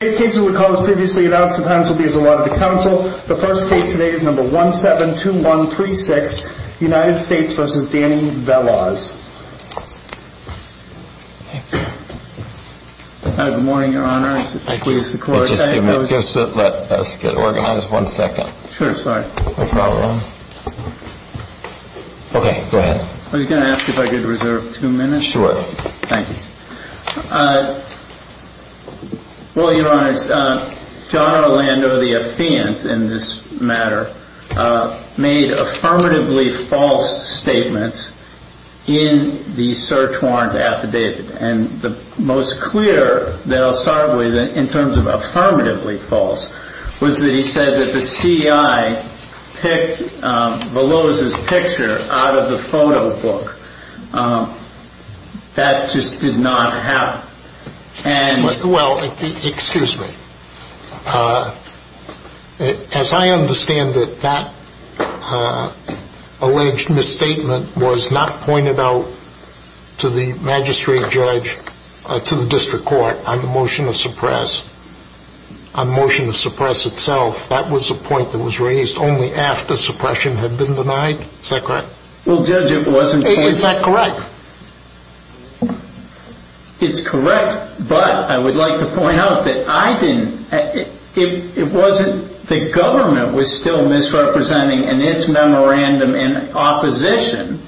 The first case today is number 172136, United States v. Danny Veloz. Good morning, Your Honor. Please support. Let us get organized one second. Sure, sorry. No problem. Okay, go ahead. I was going to ask if I could reserve two minutes. Sure. Thank you. Well, Your Honor, John Orlando, the affiant in this matter, made affirmatively false statements in the search warrant affidavit. And the most clear that I'll start with in terms of affirmatively false was that he said that the CIA picked Veloz's picture out of the photo book. That just did not happen. Well, excuse me. As I understand it, that alleged misstatement was not pointed out to the magistrate judge, to the district court, on the motion to suppress. On motion to suppress itself, that was a point that was raised only after suppression had been denied. Is that correct? Well, Judge, it wasn't. Is that correct? It's correct, but I would like to point out that I didn't, it wasn't, the government was still misrepresenting in its memorandum in opposition,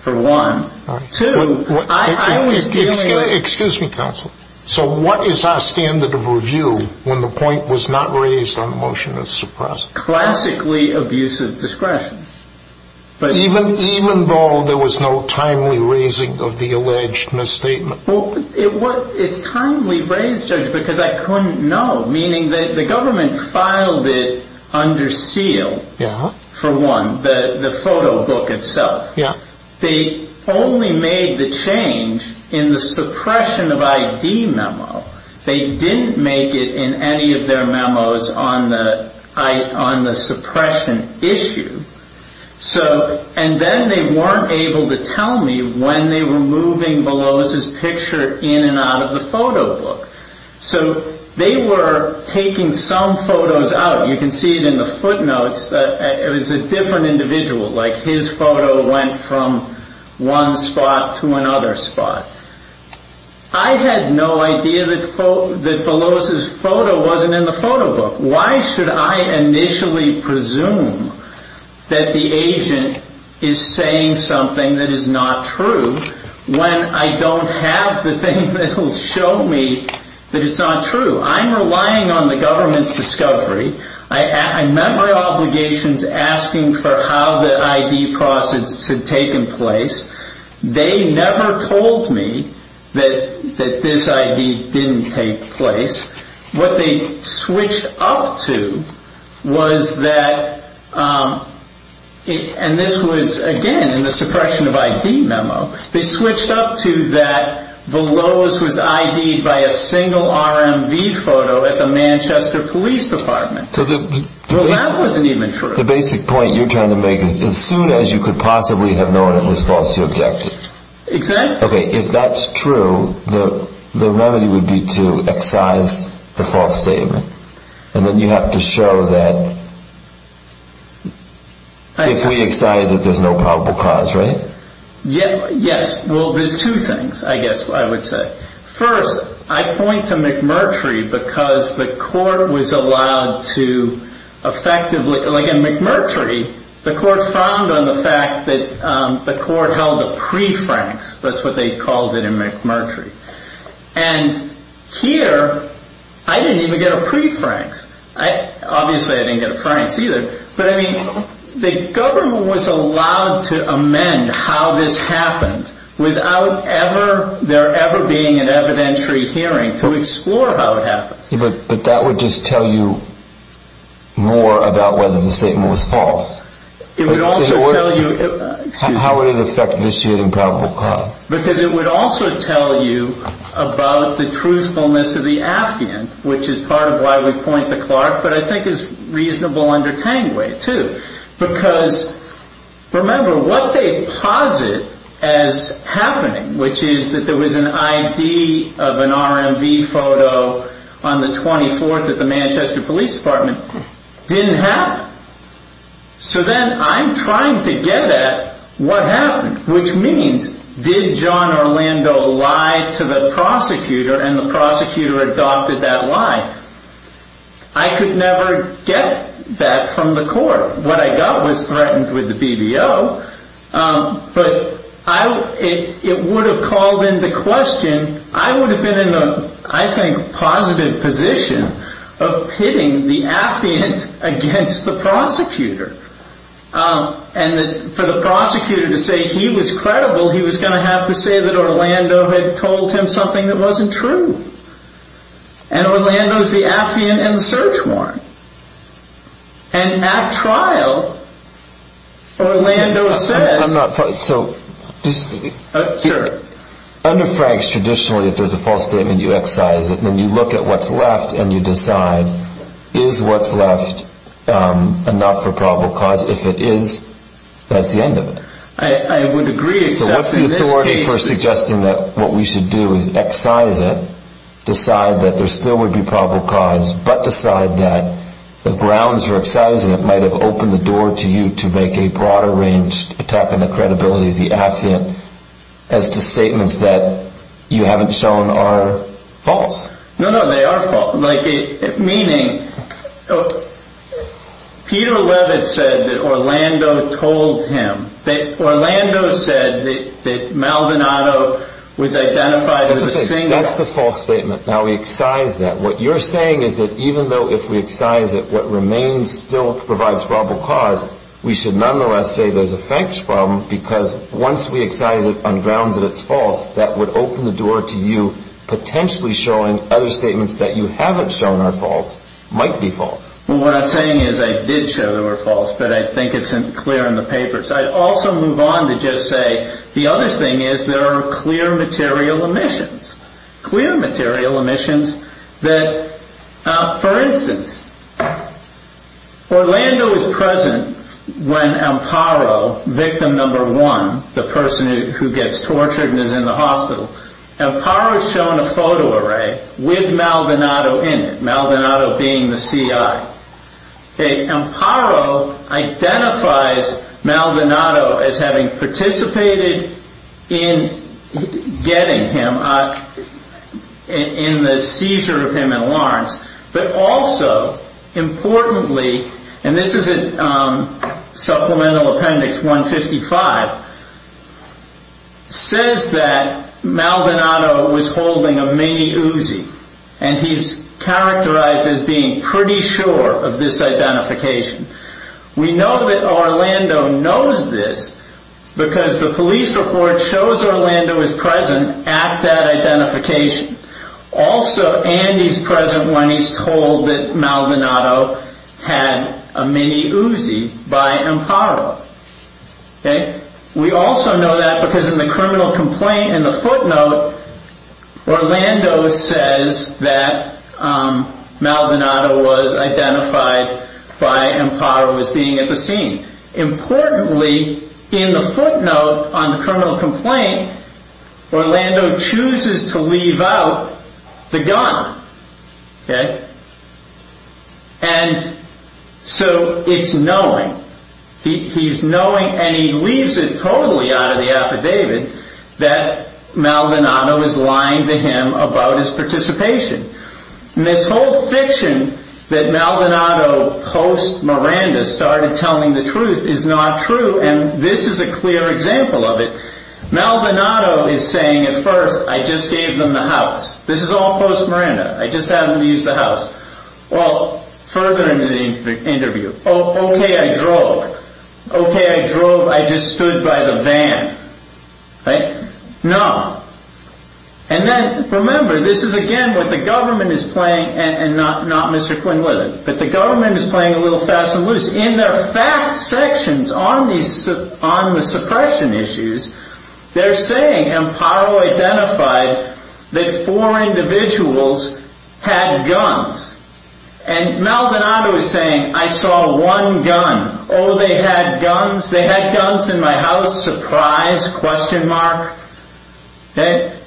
for one. Two, I was dealing. Excuse me, counsel. So what is our standard of review when the point was not raised on the motion to suppress? Classically abusive discretion. Even though there was no timely raising of the alleged misstatement? Well, it's timely raised, Judge, because I couldn't know. Meaning the government filed it under seal, for one, the photo book itself. They only made the change in the suppression of ID memo. They didn't make it in any of their memos on the suppression issue. And then they weren't able to tell me when they were moving Beloz's picture in and out of the photo book. So they were taking some photos out. You can see it in the footnotes. It was a different individual. Like his photo went from one spot to another spot. I had no idea that Beloz's photo wasn't in the photo book. Why should I initially presume that the agent is saying something that is not true, when I don't have the thing that will show me that it's not true? I'm relying on the government's discovery. I met my obligations asking for how the ID process had taken place. They never told me that this ID didn't take place. What they switched up to was that, and this was, again, in the suppression of ID memo, they switched up to that Beloz was ID'd by a single RMV photo at the Manchester Police Department. Well, that wasn't even true. The basic point you're trying to make is as soon as you could possibly have known it was false, you objected. Exactly. Okay, if that's true, the remedy would be to excise the false statement. And then you have to show that if we excise it, there's no probable cause, right? Yes. Well, there's two things, I guess, I would say. First, I point to McMurtry because the court was allowed to effectively, like in McMurtry, the court frowned on the fact that the court held a pre-francs. That's what they called it in McMurtry. And here, I didn't even get a pre-francs. Obviously, I didn't get a francs either. But, I mean, the government was allowed to amend how this happened without there ever being an evidentiary hearing to explore how it happened. But that would just tell you more about whether the statement was false. It would also tell you— How would it affect the issue of the improbable cause? Because it would also tell you about the truthfulness of the affiant, which is part of why we point to Clark, but I think is reasonable under Tangway, too. Because, remember, what they posit as happening, which is that there was an ID of an RMV photo on the 24th at the Manchester Police Department, didn't happen. So then I'm trying to get at what happened, which means, did John Orlando lie to the prosecutor and the prosecutor adopted that lie? I could never get that from the court. What I got was threatened with the BBO, but it would have called into question— I would have been in a, I think, positive position of pitting the affiant against the prosecutor. And for the prosecutor to say he was credible, he was going to have to say that Orlando had told him something that wasn't true. And Orlando's the affiant and the search warrant. And at trial, Orlando says— I'm not—so— Sure. Under Franks, traditionally, if there's a false statement, you excise it, and then you look at what's left and you decide, is what's left enough for probable cause? If it is, that's the end of it. I would agree, except in this case— So what's the authority for suggesting that what we should do is excise it, decide that there still would be probable cause, but decide that the grounds for excising it might have opened the door to you to make a broader-ranged attack on the credibility of the affiant as to statements that you haven't shown are false? No, no, they are false. Meaning, Peter Levitt said that Orlando told him. Orlando said that Maldonado was identified as a singer. That's the false statement. Now we excise that. What you're saying is that even though if we excise it, what remains still provides probable cause, we should nonetheless say there's a Franks problem because once we excise it on grounds that it's false, that would open the door to you potentially showing other statements that you haven't shown are false might be false. What I'm saying is I did show they were false, but I think it's clear in the papers. I'd also move on to just say the other thing is there are clear material omissions. Clear material omissions that, for instance, Orlando is present when Amparo, victim number one, the person who gets tortured and is in the hospital, Amparo is shown a photo array with Maldonado in it, Maldonado being the CI. Amparo identifies Maldonado as having participated in getting him, in the seizure of him in Lawrence, but also importantly, and this is in Supplemental Appendix 155, says that Maldonado was holding a mini Uzi and he's characterized as being pretty sure of this identification. We know that Orlando knows this because the police report shows Orlando is present at that identification. Also, Andy's present when he's told that Maldonado had a mini Uzi by Amparo. We also know that because in the criminal complaint, in the footnote, Orlando says that Maldonado was identified by Amparo as being at the scene. Importantly, in the footnote on the criminal complaint, Orlando chooses to leave out the gun. And so it's knowing. He's knowing and he leaves it totally out of the affidavit that Maldonado is lying to him about his participation. This whole fiction that Maldonado post Miranda started telling the truth is not true and this is a clear example of it. Maldonado is saying at first, I just gave them the house. This is all post Miranda. I just had them use the house. Well, further into the interview, okay, I drove. Okay, I drove. I just stood by the van. Right? No. And then, remember, this is again what the government is playing and not Mr. Quinlivan, but the government is playing a little fast and loose. In their fact sections on the suppression issues, they're saying Amparo identified that four individuals had guns and Maldonado is saying, I saw one gun. Oh, they had guns? They had guns in my house? Surprise? Question mark? Okay.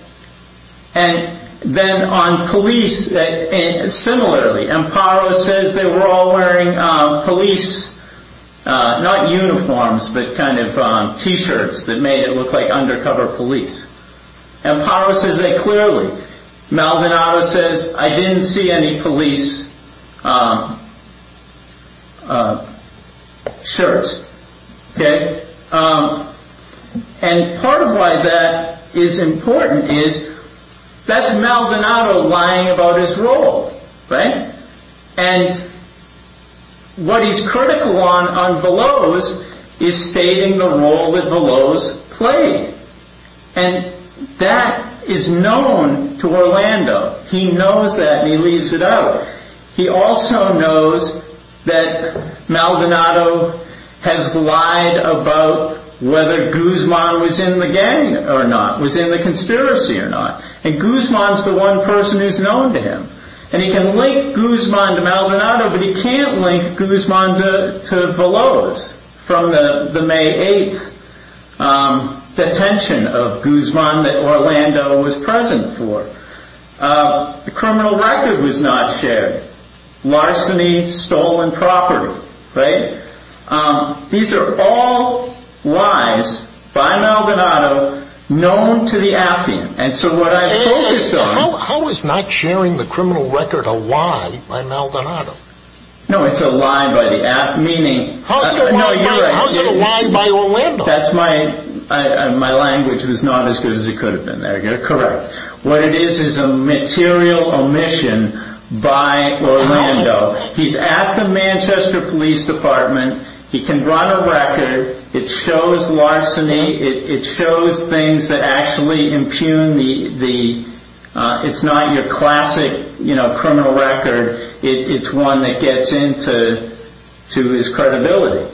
And then on police, similarly, Amparo says they were all wearing police, not uniforms, but kind of T-shirts that made it look like undercover police. Amparo says that clearly. Maldonado says, I didn't see any police shirts. Okay? And part of why that is important is that's Maldonado lying about his role. Right? And what he's critical on on Veloz is stating the role that Veloz played. And that is known to Orlando. He knows that and he leaves it out. He also knows that Maldonado has lied about whether Guzman was in the gang or not, was in the conspiracy or not. And Guzman's the one person who's known to him. And he can link Guzman to Maldonado, but he can't link Guzman to Veloz. From the May 8th detention of Guzman that Orlando was present for. The criminal record was not shared. Larceny, stolen property. Right? These are all lies by Maldonado known to the Affian. How is not sharing the criminal record a lie by Maldonado? No, it's a lie by the Affian. How is it a lie by Orlando? My language was not as good as it could have been there. Correct. What it is is a material omission by Orlando. He's at the Manchester Police Department. He can run a record. It shows larceny. It shows things that actually impugn the, it's not your classic criminal record. It's one that gets into his credibility.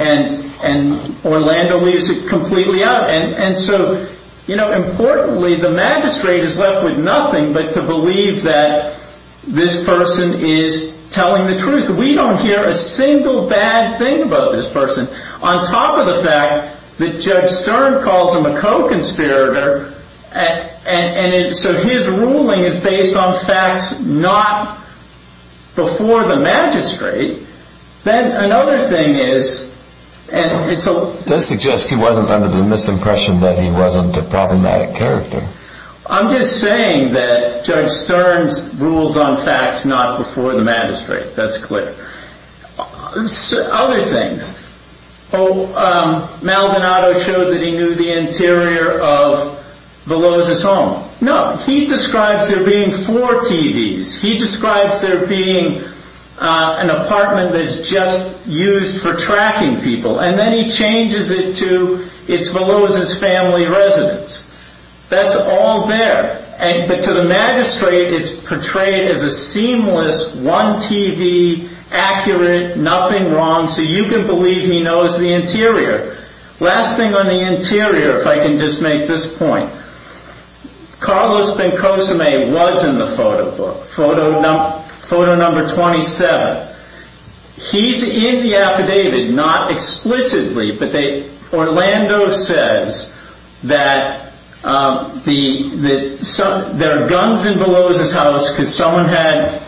And Orlando leaves it completely out. And so, importantly, the magistrate is left with nothing but to believe that this person is telling the truth. We don't hear a single bad thing about this person. On top of the fact that Judge Stern calls him a co-conspirator, and so his ruling is based on facts not before the magistrate, then another thing is, and it's a... That suggests he wasn't under the misimpression that he wasn't a problematic character. I'm just saying that Judge Stern's rules on facts not before the magistrate. That's clear. Other things. Oh, Maldonado showed that he knew the interior of Veloz's home. No, he describes there being four TVs. He describes there being an apartment that's just used for tracking people. And then he changes it to, it's Veloz's family residence. That's all there. But to the magistrate, it's portrayed as a seamless, one TV, accurate, nothing wrong. So you can believe he knows the interior. Last thing on the interior, if I can just make this point. Carlos Bencosime was in the photo book. Photo number 27. He's in the affidavit. Not explicitly, but Orlando says that there are guns in Veloz's house because someone had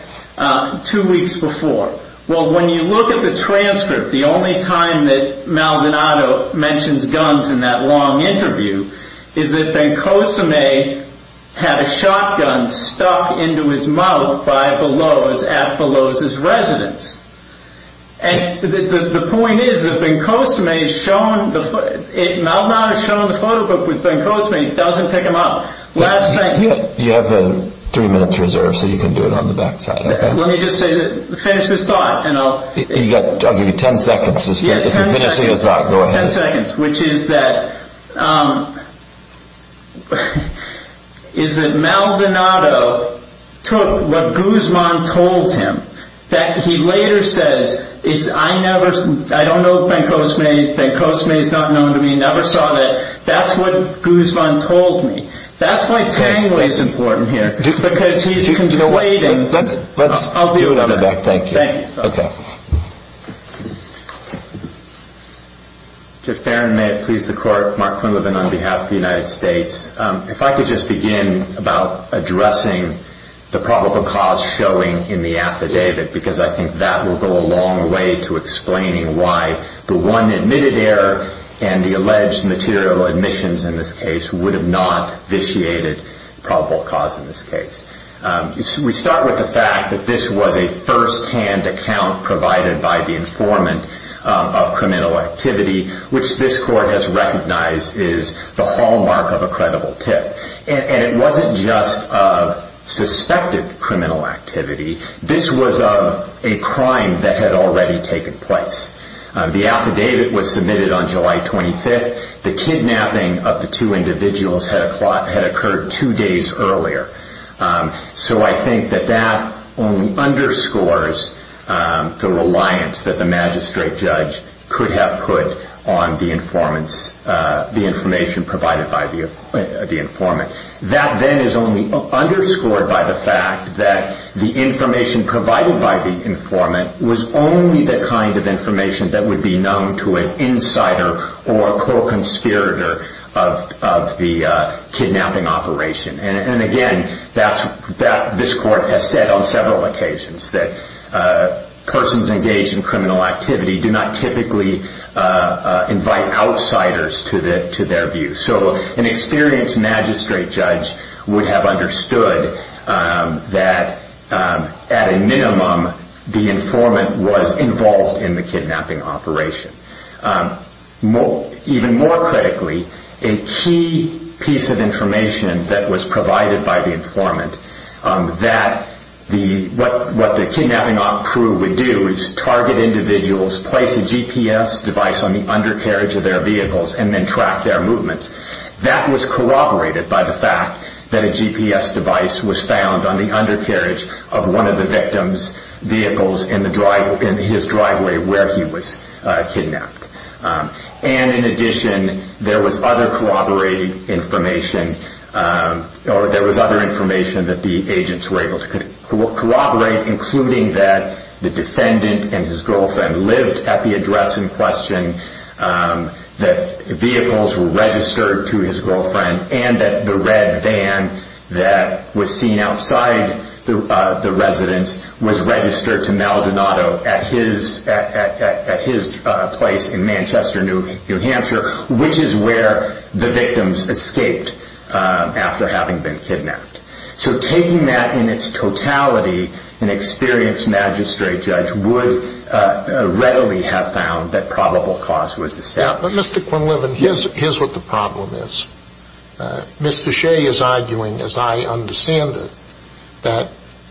two weeks before. Well, when you look at the transcript, the only time that Maldonado mentions guns in that long interview is that Bencosime had a shotgun stuck into his mouth by Veloz at Veloz's residence. And the point is that Maldonado is shown in the photo book with Bencosime. He doesn't pick him up. You have three minutes reserved, so you can do it on the back side. Let me just finish this thought. I'll give you ten seconds. If you're finishing your thought, go ahead. Ten seconds. Which is that Maldonado took what Guzman told him that he later says, I don't know Bencosime. Bencosime is not known to me. Never saw that. That's what Guzman told me. That's why tangling is important here. Because he's conflating. I'll do it on the back. Thank you. Okay. Judge Barron, may it please the Court. Mark Quinlivan on behalf of the United States. If I could just begin about addressing the probable cause showing in the affidavit, because I think that will go a long way to explaining why the one admitted error and the alleged material admissions in this case would have not vitiated probable cause in this case. We start with the fact that this was a first-hand account provided by the informant of criminal activity, which this Court has recognized is the hallmark of a credible tip. And it wasn't just of suspected criminal activity. This was of a crime that had already taken place. The affidavit was submitted on July 25th. The kidnapping of the two individuals had occurred two days earlier. So I think that that only underscores the reliance that the magistrate judge could have put on the informant's, the information provided by the informant. That then is only underscored by the fact that the information provided by the informant was only the kind of information that would be known to an insider or a co-conspirator of the kidnapping operation. And again, this Court has said on several occasions that persons engaged in criminal activity do not typically invite outsiders to their view. So an experienced magistrate judge would have understood that at a minimum, the informant was involved in the kidnapping operation. Even more critically, a key piece of information that was provided by the informant, that what the kidnapping crew would do is target individuals, place a GPS device on the undercarriage of their vehicles, and then track their movements. That was corroborated by the fact that a GPS device was found on the undercarriage of one of the victim's vehicles in his driveway where he was kidnapped. And in addition, there was other corroborated information, or there was other information that the agents were able to corroborate, including that the defendant and his girlfriend lived at the address in question, that vehicles were registered to his girlfriend, and that the red van that was seen outside the residence was registered to Maldonado at his place in Manchester, New Hampshire, which is where the victims escaped after having been kidnapped. So taking that in its totality, an experienced magistrate judge would readily have found that probable cause was established. Mr. Quinlivan, here's what the problem is. Mr. Shea is arguing, as I understand it,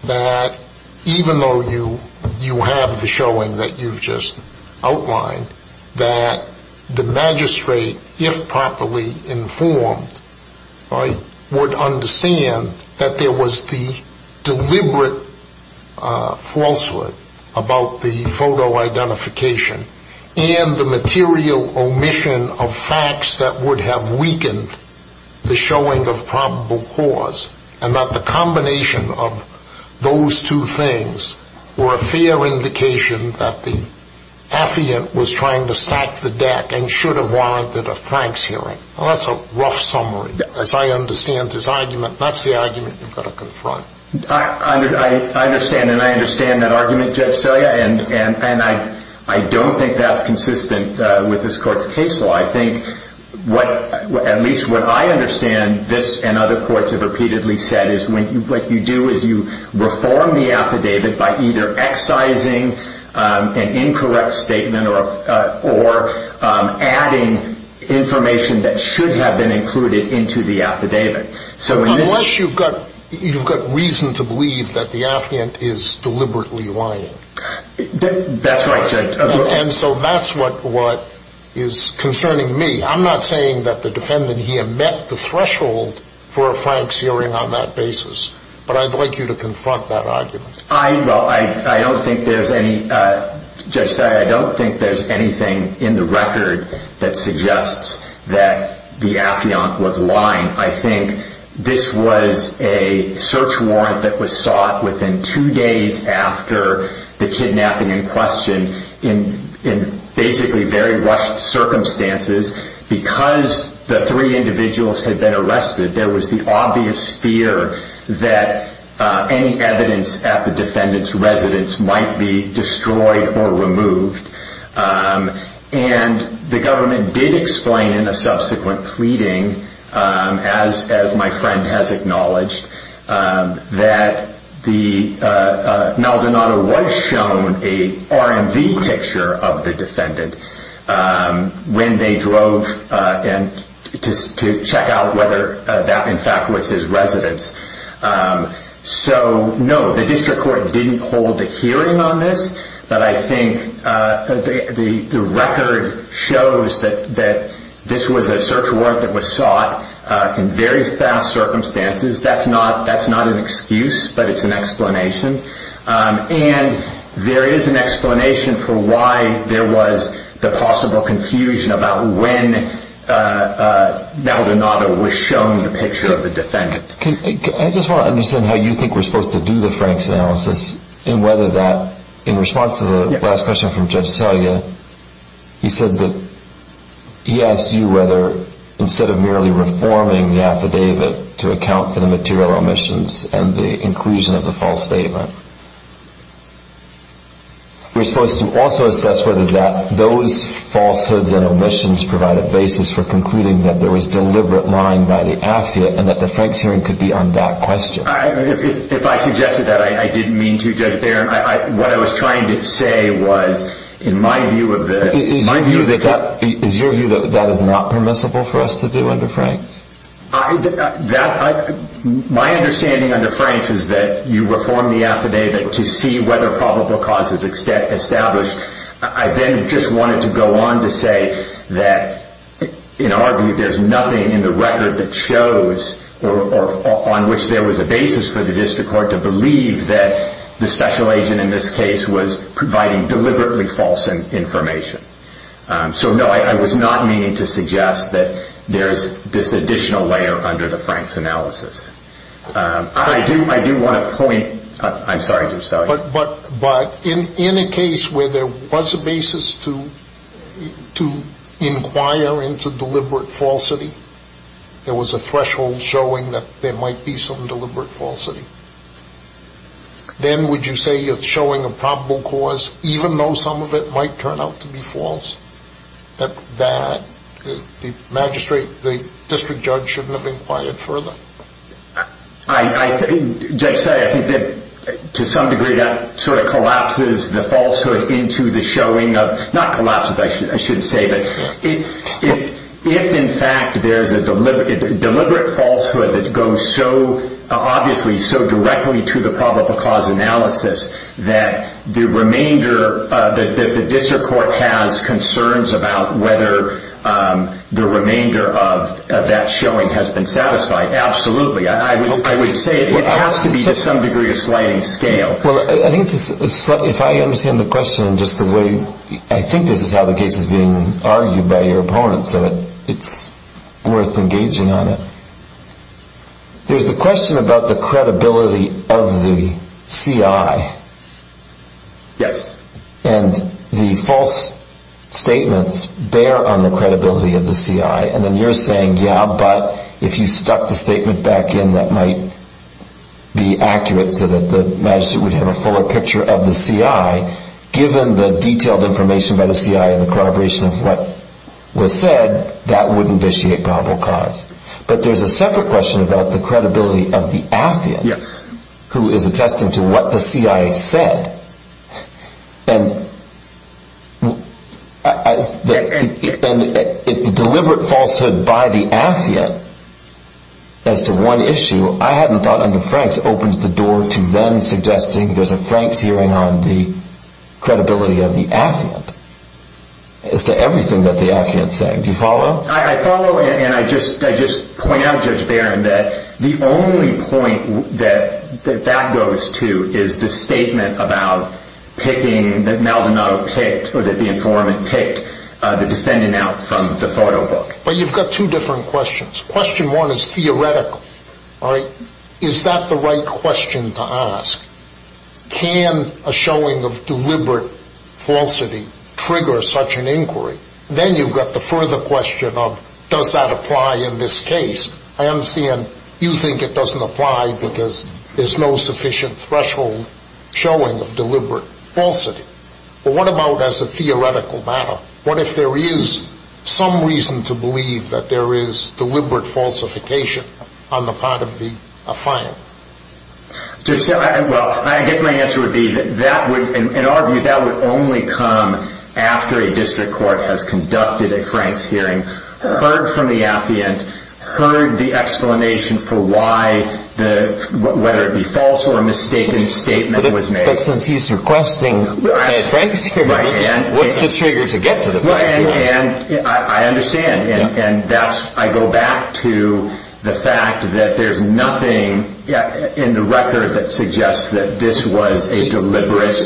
that even though you have the showing that you've just outlined, that the magistrate, if properly informed, would understand that there was the deliberate falsehood about the photo identification and the material omission of facts that would have weakened the showing of probable cause, and that the combination of those two things were a fair indication that the affiant was trying to stack the deck and should have warranted a Franks hearing. Well, that's a rough summary. As I understand this argument, that's the argument you've got to confront. I understand, and I understand that argument, Judge Celia, and I don't think that's consistent with this court's case law. I think at least what I understand, this and other courts have repeatedly said, is what you do is you reform the affidavit by either excising an incorrect statement or adding information that should have been included into the affidavit. Unless you've got reason to believe that the affiant is deliberately lying. That's right, Judge. And so that's what is concerning me. I'm not saying that the defendant, he had met the threshold for a Franks hearing on that basis, but I'd like you to confront that argument. I don't think there's anything in the record that suggests that the affiant was lying. I think this was a search warrant that was sought within two days after the kidnapping in question, in basically very rushed circumstances. Because the three individuals had been arrested, there was the obvious fear that any evidence at the defendant's residence might be destroyed or removed. And the government did explain in a subsequent pleading, as my friend has acknowledged, that Naldonado was shown an RMV picture of the defendant when they drove to check out whether that in fact was his residence. So no, the district court didn't hold a hearing on this. But I think the record shows that this was a search warrant that was sought in very fast circumstances. That's not an excuse, but it's an explanation. And there is an explanation for why there was the possible confusion about when Naldonado was shown the picture of the defendant. I just want to understand how you think we're supposed to do the Franks analysis and whether that, in response to the last question from Judge Selya, he said that he asked you whether, instead of merely reforming the affidavit to account for the material omissions and the inclusion of the false statement, we're supposed to also assess whether those falsehoods and omissions provide a basis for concluding that there was deliberate lying by the affidavit and that the Franks hearing could be on that question. If I suggested that, I didn't mean to, Judge Barron. What I was trying to say was, in my view of it, Is your view that that is not permissible for us to do under Franks? My understanding under Franks is that you reform the affidavit to see whether probable cause is established. I then just wanted to go on to say that, in our view, there's nothing in the record that shows or on which there was a basis for the district court to believe that the special agent in this case was providing deliberately false information. So, no, I was not meaning to suggest that there's this additional layer under the Franks analysis. I do want to point, I'm sorry, Judge Selya. But in a case where there was a basis to inquire into deliberate falsity, there was a threshold showing that there might be some deliberate falsity, then would you say you're showing a probable cause, even though some of it might turn out to be false, that the magistrate, the district judge, shouldn't have inquired further? Judge Selya, I think that, to some degree, that sort of collapses the falsehood into the showing of, not collapses, I shouldn't say, but if, in fact, there's a deliberate falsehood that goes so, obviously, so directly to the probable cause analysis that the remainder, the district court has concerns about whether the remainder of that showing has been satisfied. Absolutely. I would say it has to be, to some degree, a sliding scale. Well, I think, if I understand the question in just the way, I think this is how the case is being argued by your opponents, so it's worth engaging on it. There's a question about the credibility of the CI. Yes. And the false statements bear on the credibility of the CI, and then you're saying, yeah, but if you stuck the statement back in that might be accurate so that the magistrate would have a fuller picture of the CI, given the detailed information by the CI and the corroboration of what was said, that would invitiate probable cause. But there's a separate question about the credibility of the affiant, who is attesting to what the CI said, and the deliberate falsehood by the affiant as to one issue, I haven't thought under Frank's, opens the door to them suggesting there's a Frank's hearing on the credibility of the affiant as to everything that the affiant's saying. Do you follow? I follow, and I just point out, Judge Barron, that the only point that that goes to is the statement about picking, that Maldonado picked, or that the informant picked the defendant out from the photo book. But you've got two different questions. Question one is theoretical, all right? Is that the right question to ask? Can a showing of deliberate falsity trigger such an inquiry? Then you've got the further question of does that apply in this case? I understand you think it doesn't apply because there's no sufficient threshold showing of deliberate falsity. But what about as a theoretical matter? What if there is some reason to believe that there is deliberate falsification on the part of the affiant? Well, I guess my answer would be that that would, in our view, that would only come after a district court has conducted a Frank's hearing, heard from the affiant, heard the explanation for why, whether it be false or a mistaken statement was made. But since he's requesting a Frank's hearing, what's the trigger to get to the Frank's hearing? I understand, and I go back to the fact that there's nothing in the record that suggests that this was a deliberate.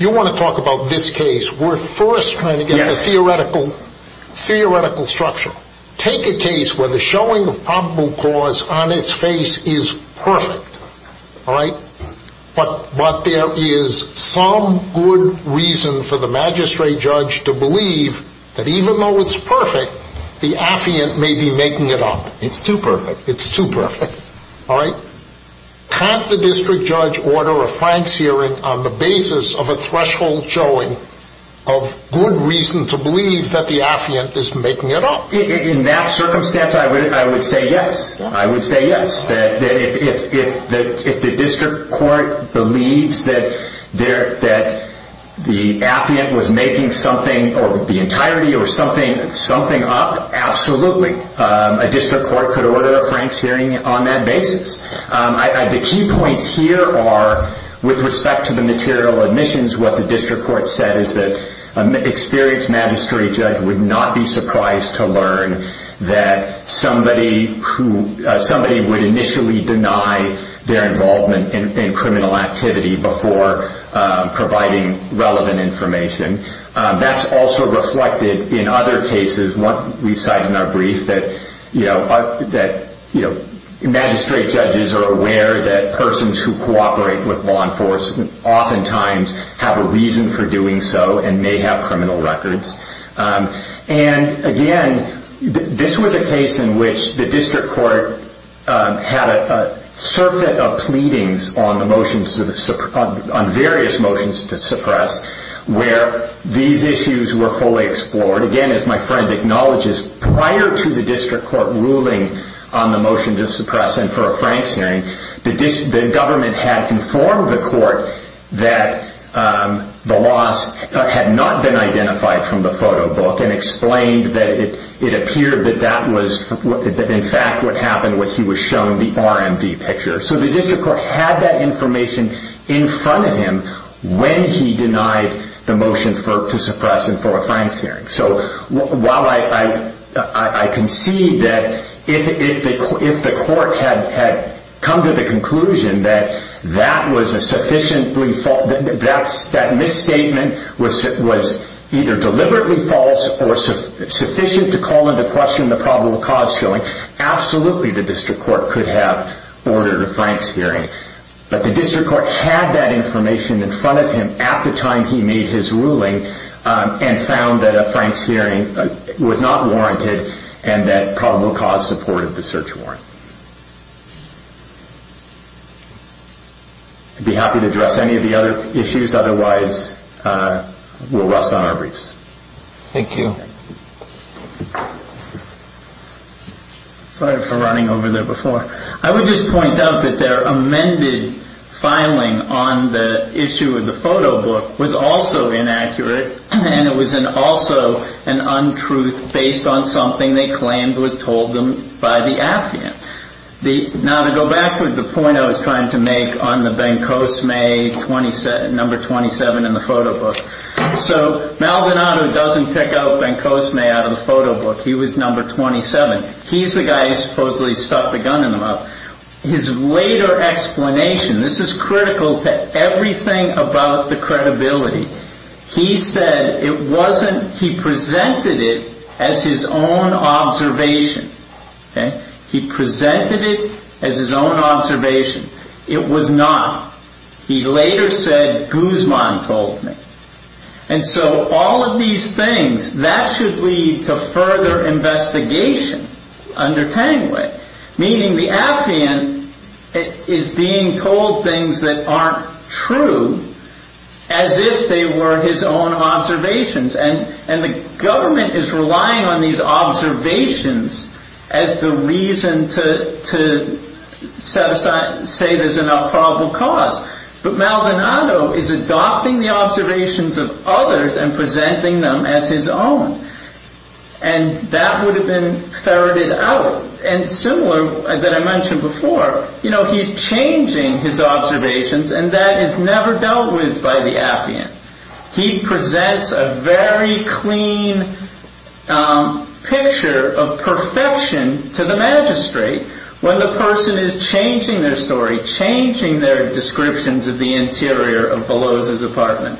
You want to talk about this case. We're first trying to get a theoretical structure. Take a case where the showing of probable cause on its face is perfect, all right? But there is some good reason for the magistrate judge to believe that even though it's perfect, the affiant may be making it up. It's too perfect. It's too perfect, all right? Can't the district judge order a Frank's hearing on the basis of a threshold showing of good reason to believe that the affiant is making it up? In that circumstance, I would say yes. I would say yes. If the district court believes that the affiant was making something or the entirety or something up, absolutely. A district court could order a Frank's hearing on that basis. The key points here are with respect to the material admissions, what the district court said is that an experienced magistrate judge would not be surprised to learn that somebody would initially deny their involvement in criminal activity before providing relevant information. That's also reflected in other cases. We cite in our brief that magistrate judges are aware that persons who cooperate with law enforcement oftentimes have a reason for doing so and may have criminal records. Again, this was a case in which the district court had a circuit of pleadings on various motions to suppress where these issues were fully explored. Again, as my friend acknowledges, prior to the district court ruling on the motion to suppress and for a Frank's hearing, the government had informed the court that the loss had not been identified from the photo book and explained that it appeared that in fact what happened was he was shown the RMV picture. The district court had that information in front of him when he denied the motion to suppress and for a Frank's hearing. While I concede that if the court had come to the conclusion that that misstatement was either deliberately false or sufficient to call into question the probable cause showing, absolutely the district court could have ordered a Frank's hearing. But the district court had that information in front of him at the time he made his ruling and found that a Frank's hearing was not warranted and that probable cause supported the search warrant. I'd be happy to address any of the other issues, otherwise we'll rest on our briefs. Thank you. Sorry for running over there before. I would just point out that their amended filing on the issue of the photo book was also inaccurate and it was also an untruth based on something they claimed was told them by the affiant. Now to go back to the point I was trying to make on the Bencosme number 27 in the photo book. So Maldonado doesn't pick out Bencosme out of the photo book. He was number 27. He's the guy who supposedly stuck the gun in the mouth. His later explanation, this is critical to everything about the credibility. He said he presented it as his own observation. He presented it as his own observation. It was not. He later said Guzman told me. And so all of these things, that should lead to further investigation under Tanguay. Meaning the affiant is being told things that aren't true as if they were his own observations. And the government is relying on these observations as the reason to say there's enough probable cause. But Maldonado is adopting the observations of others and presenting them as his own. And that would have been ferreted out. And similar that I mentioned before, he's changing his observations and that is never dealt with by the affiant. He presents a very clean picture of perfection to the magistrate when the person is changing their story. Changing their descriptions of the interior of Veloz's apartment.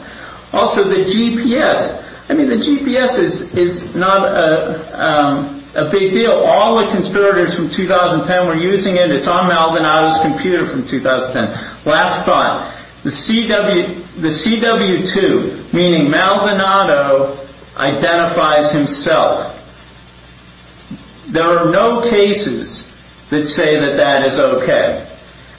Also the GPS. I mean the GPS is not a big deal. All the conspirators from 2010 were using it. It's on Maldonado's computer from 2010. Last thought. The CW2, meaning Maldonado, identifies himself. There are no cases that say that that is okay.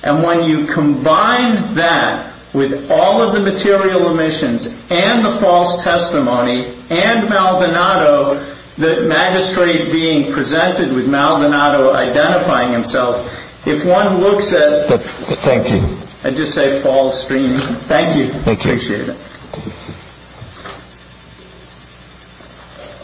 And when you combine that with all of the material omissions and the false testimony and Maldonado, the magistrate being presented with Maldonado identifying himself, if one looks at... Thank you. I'd just say false dream. Thank you. Thank you.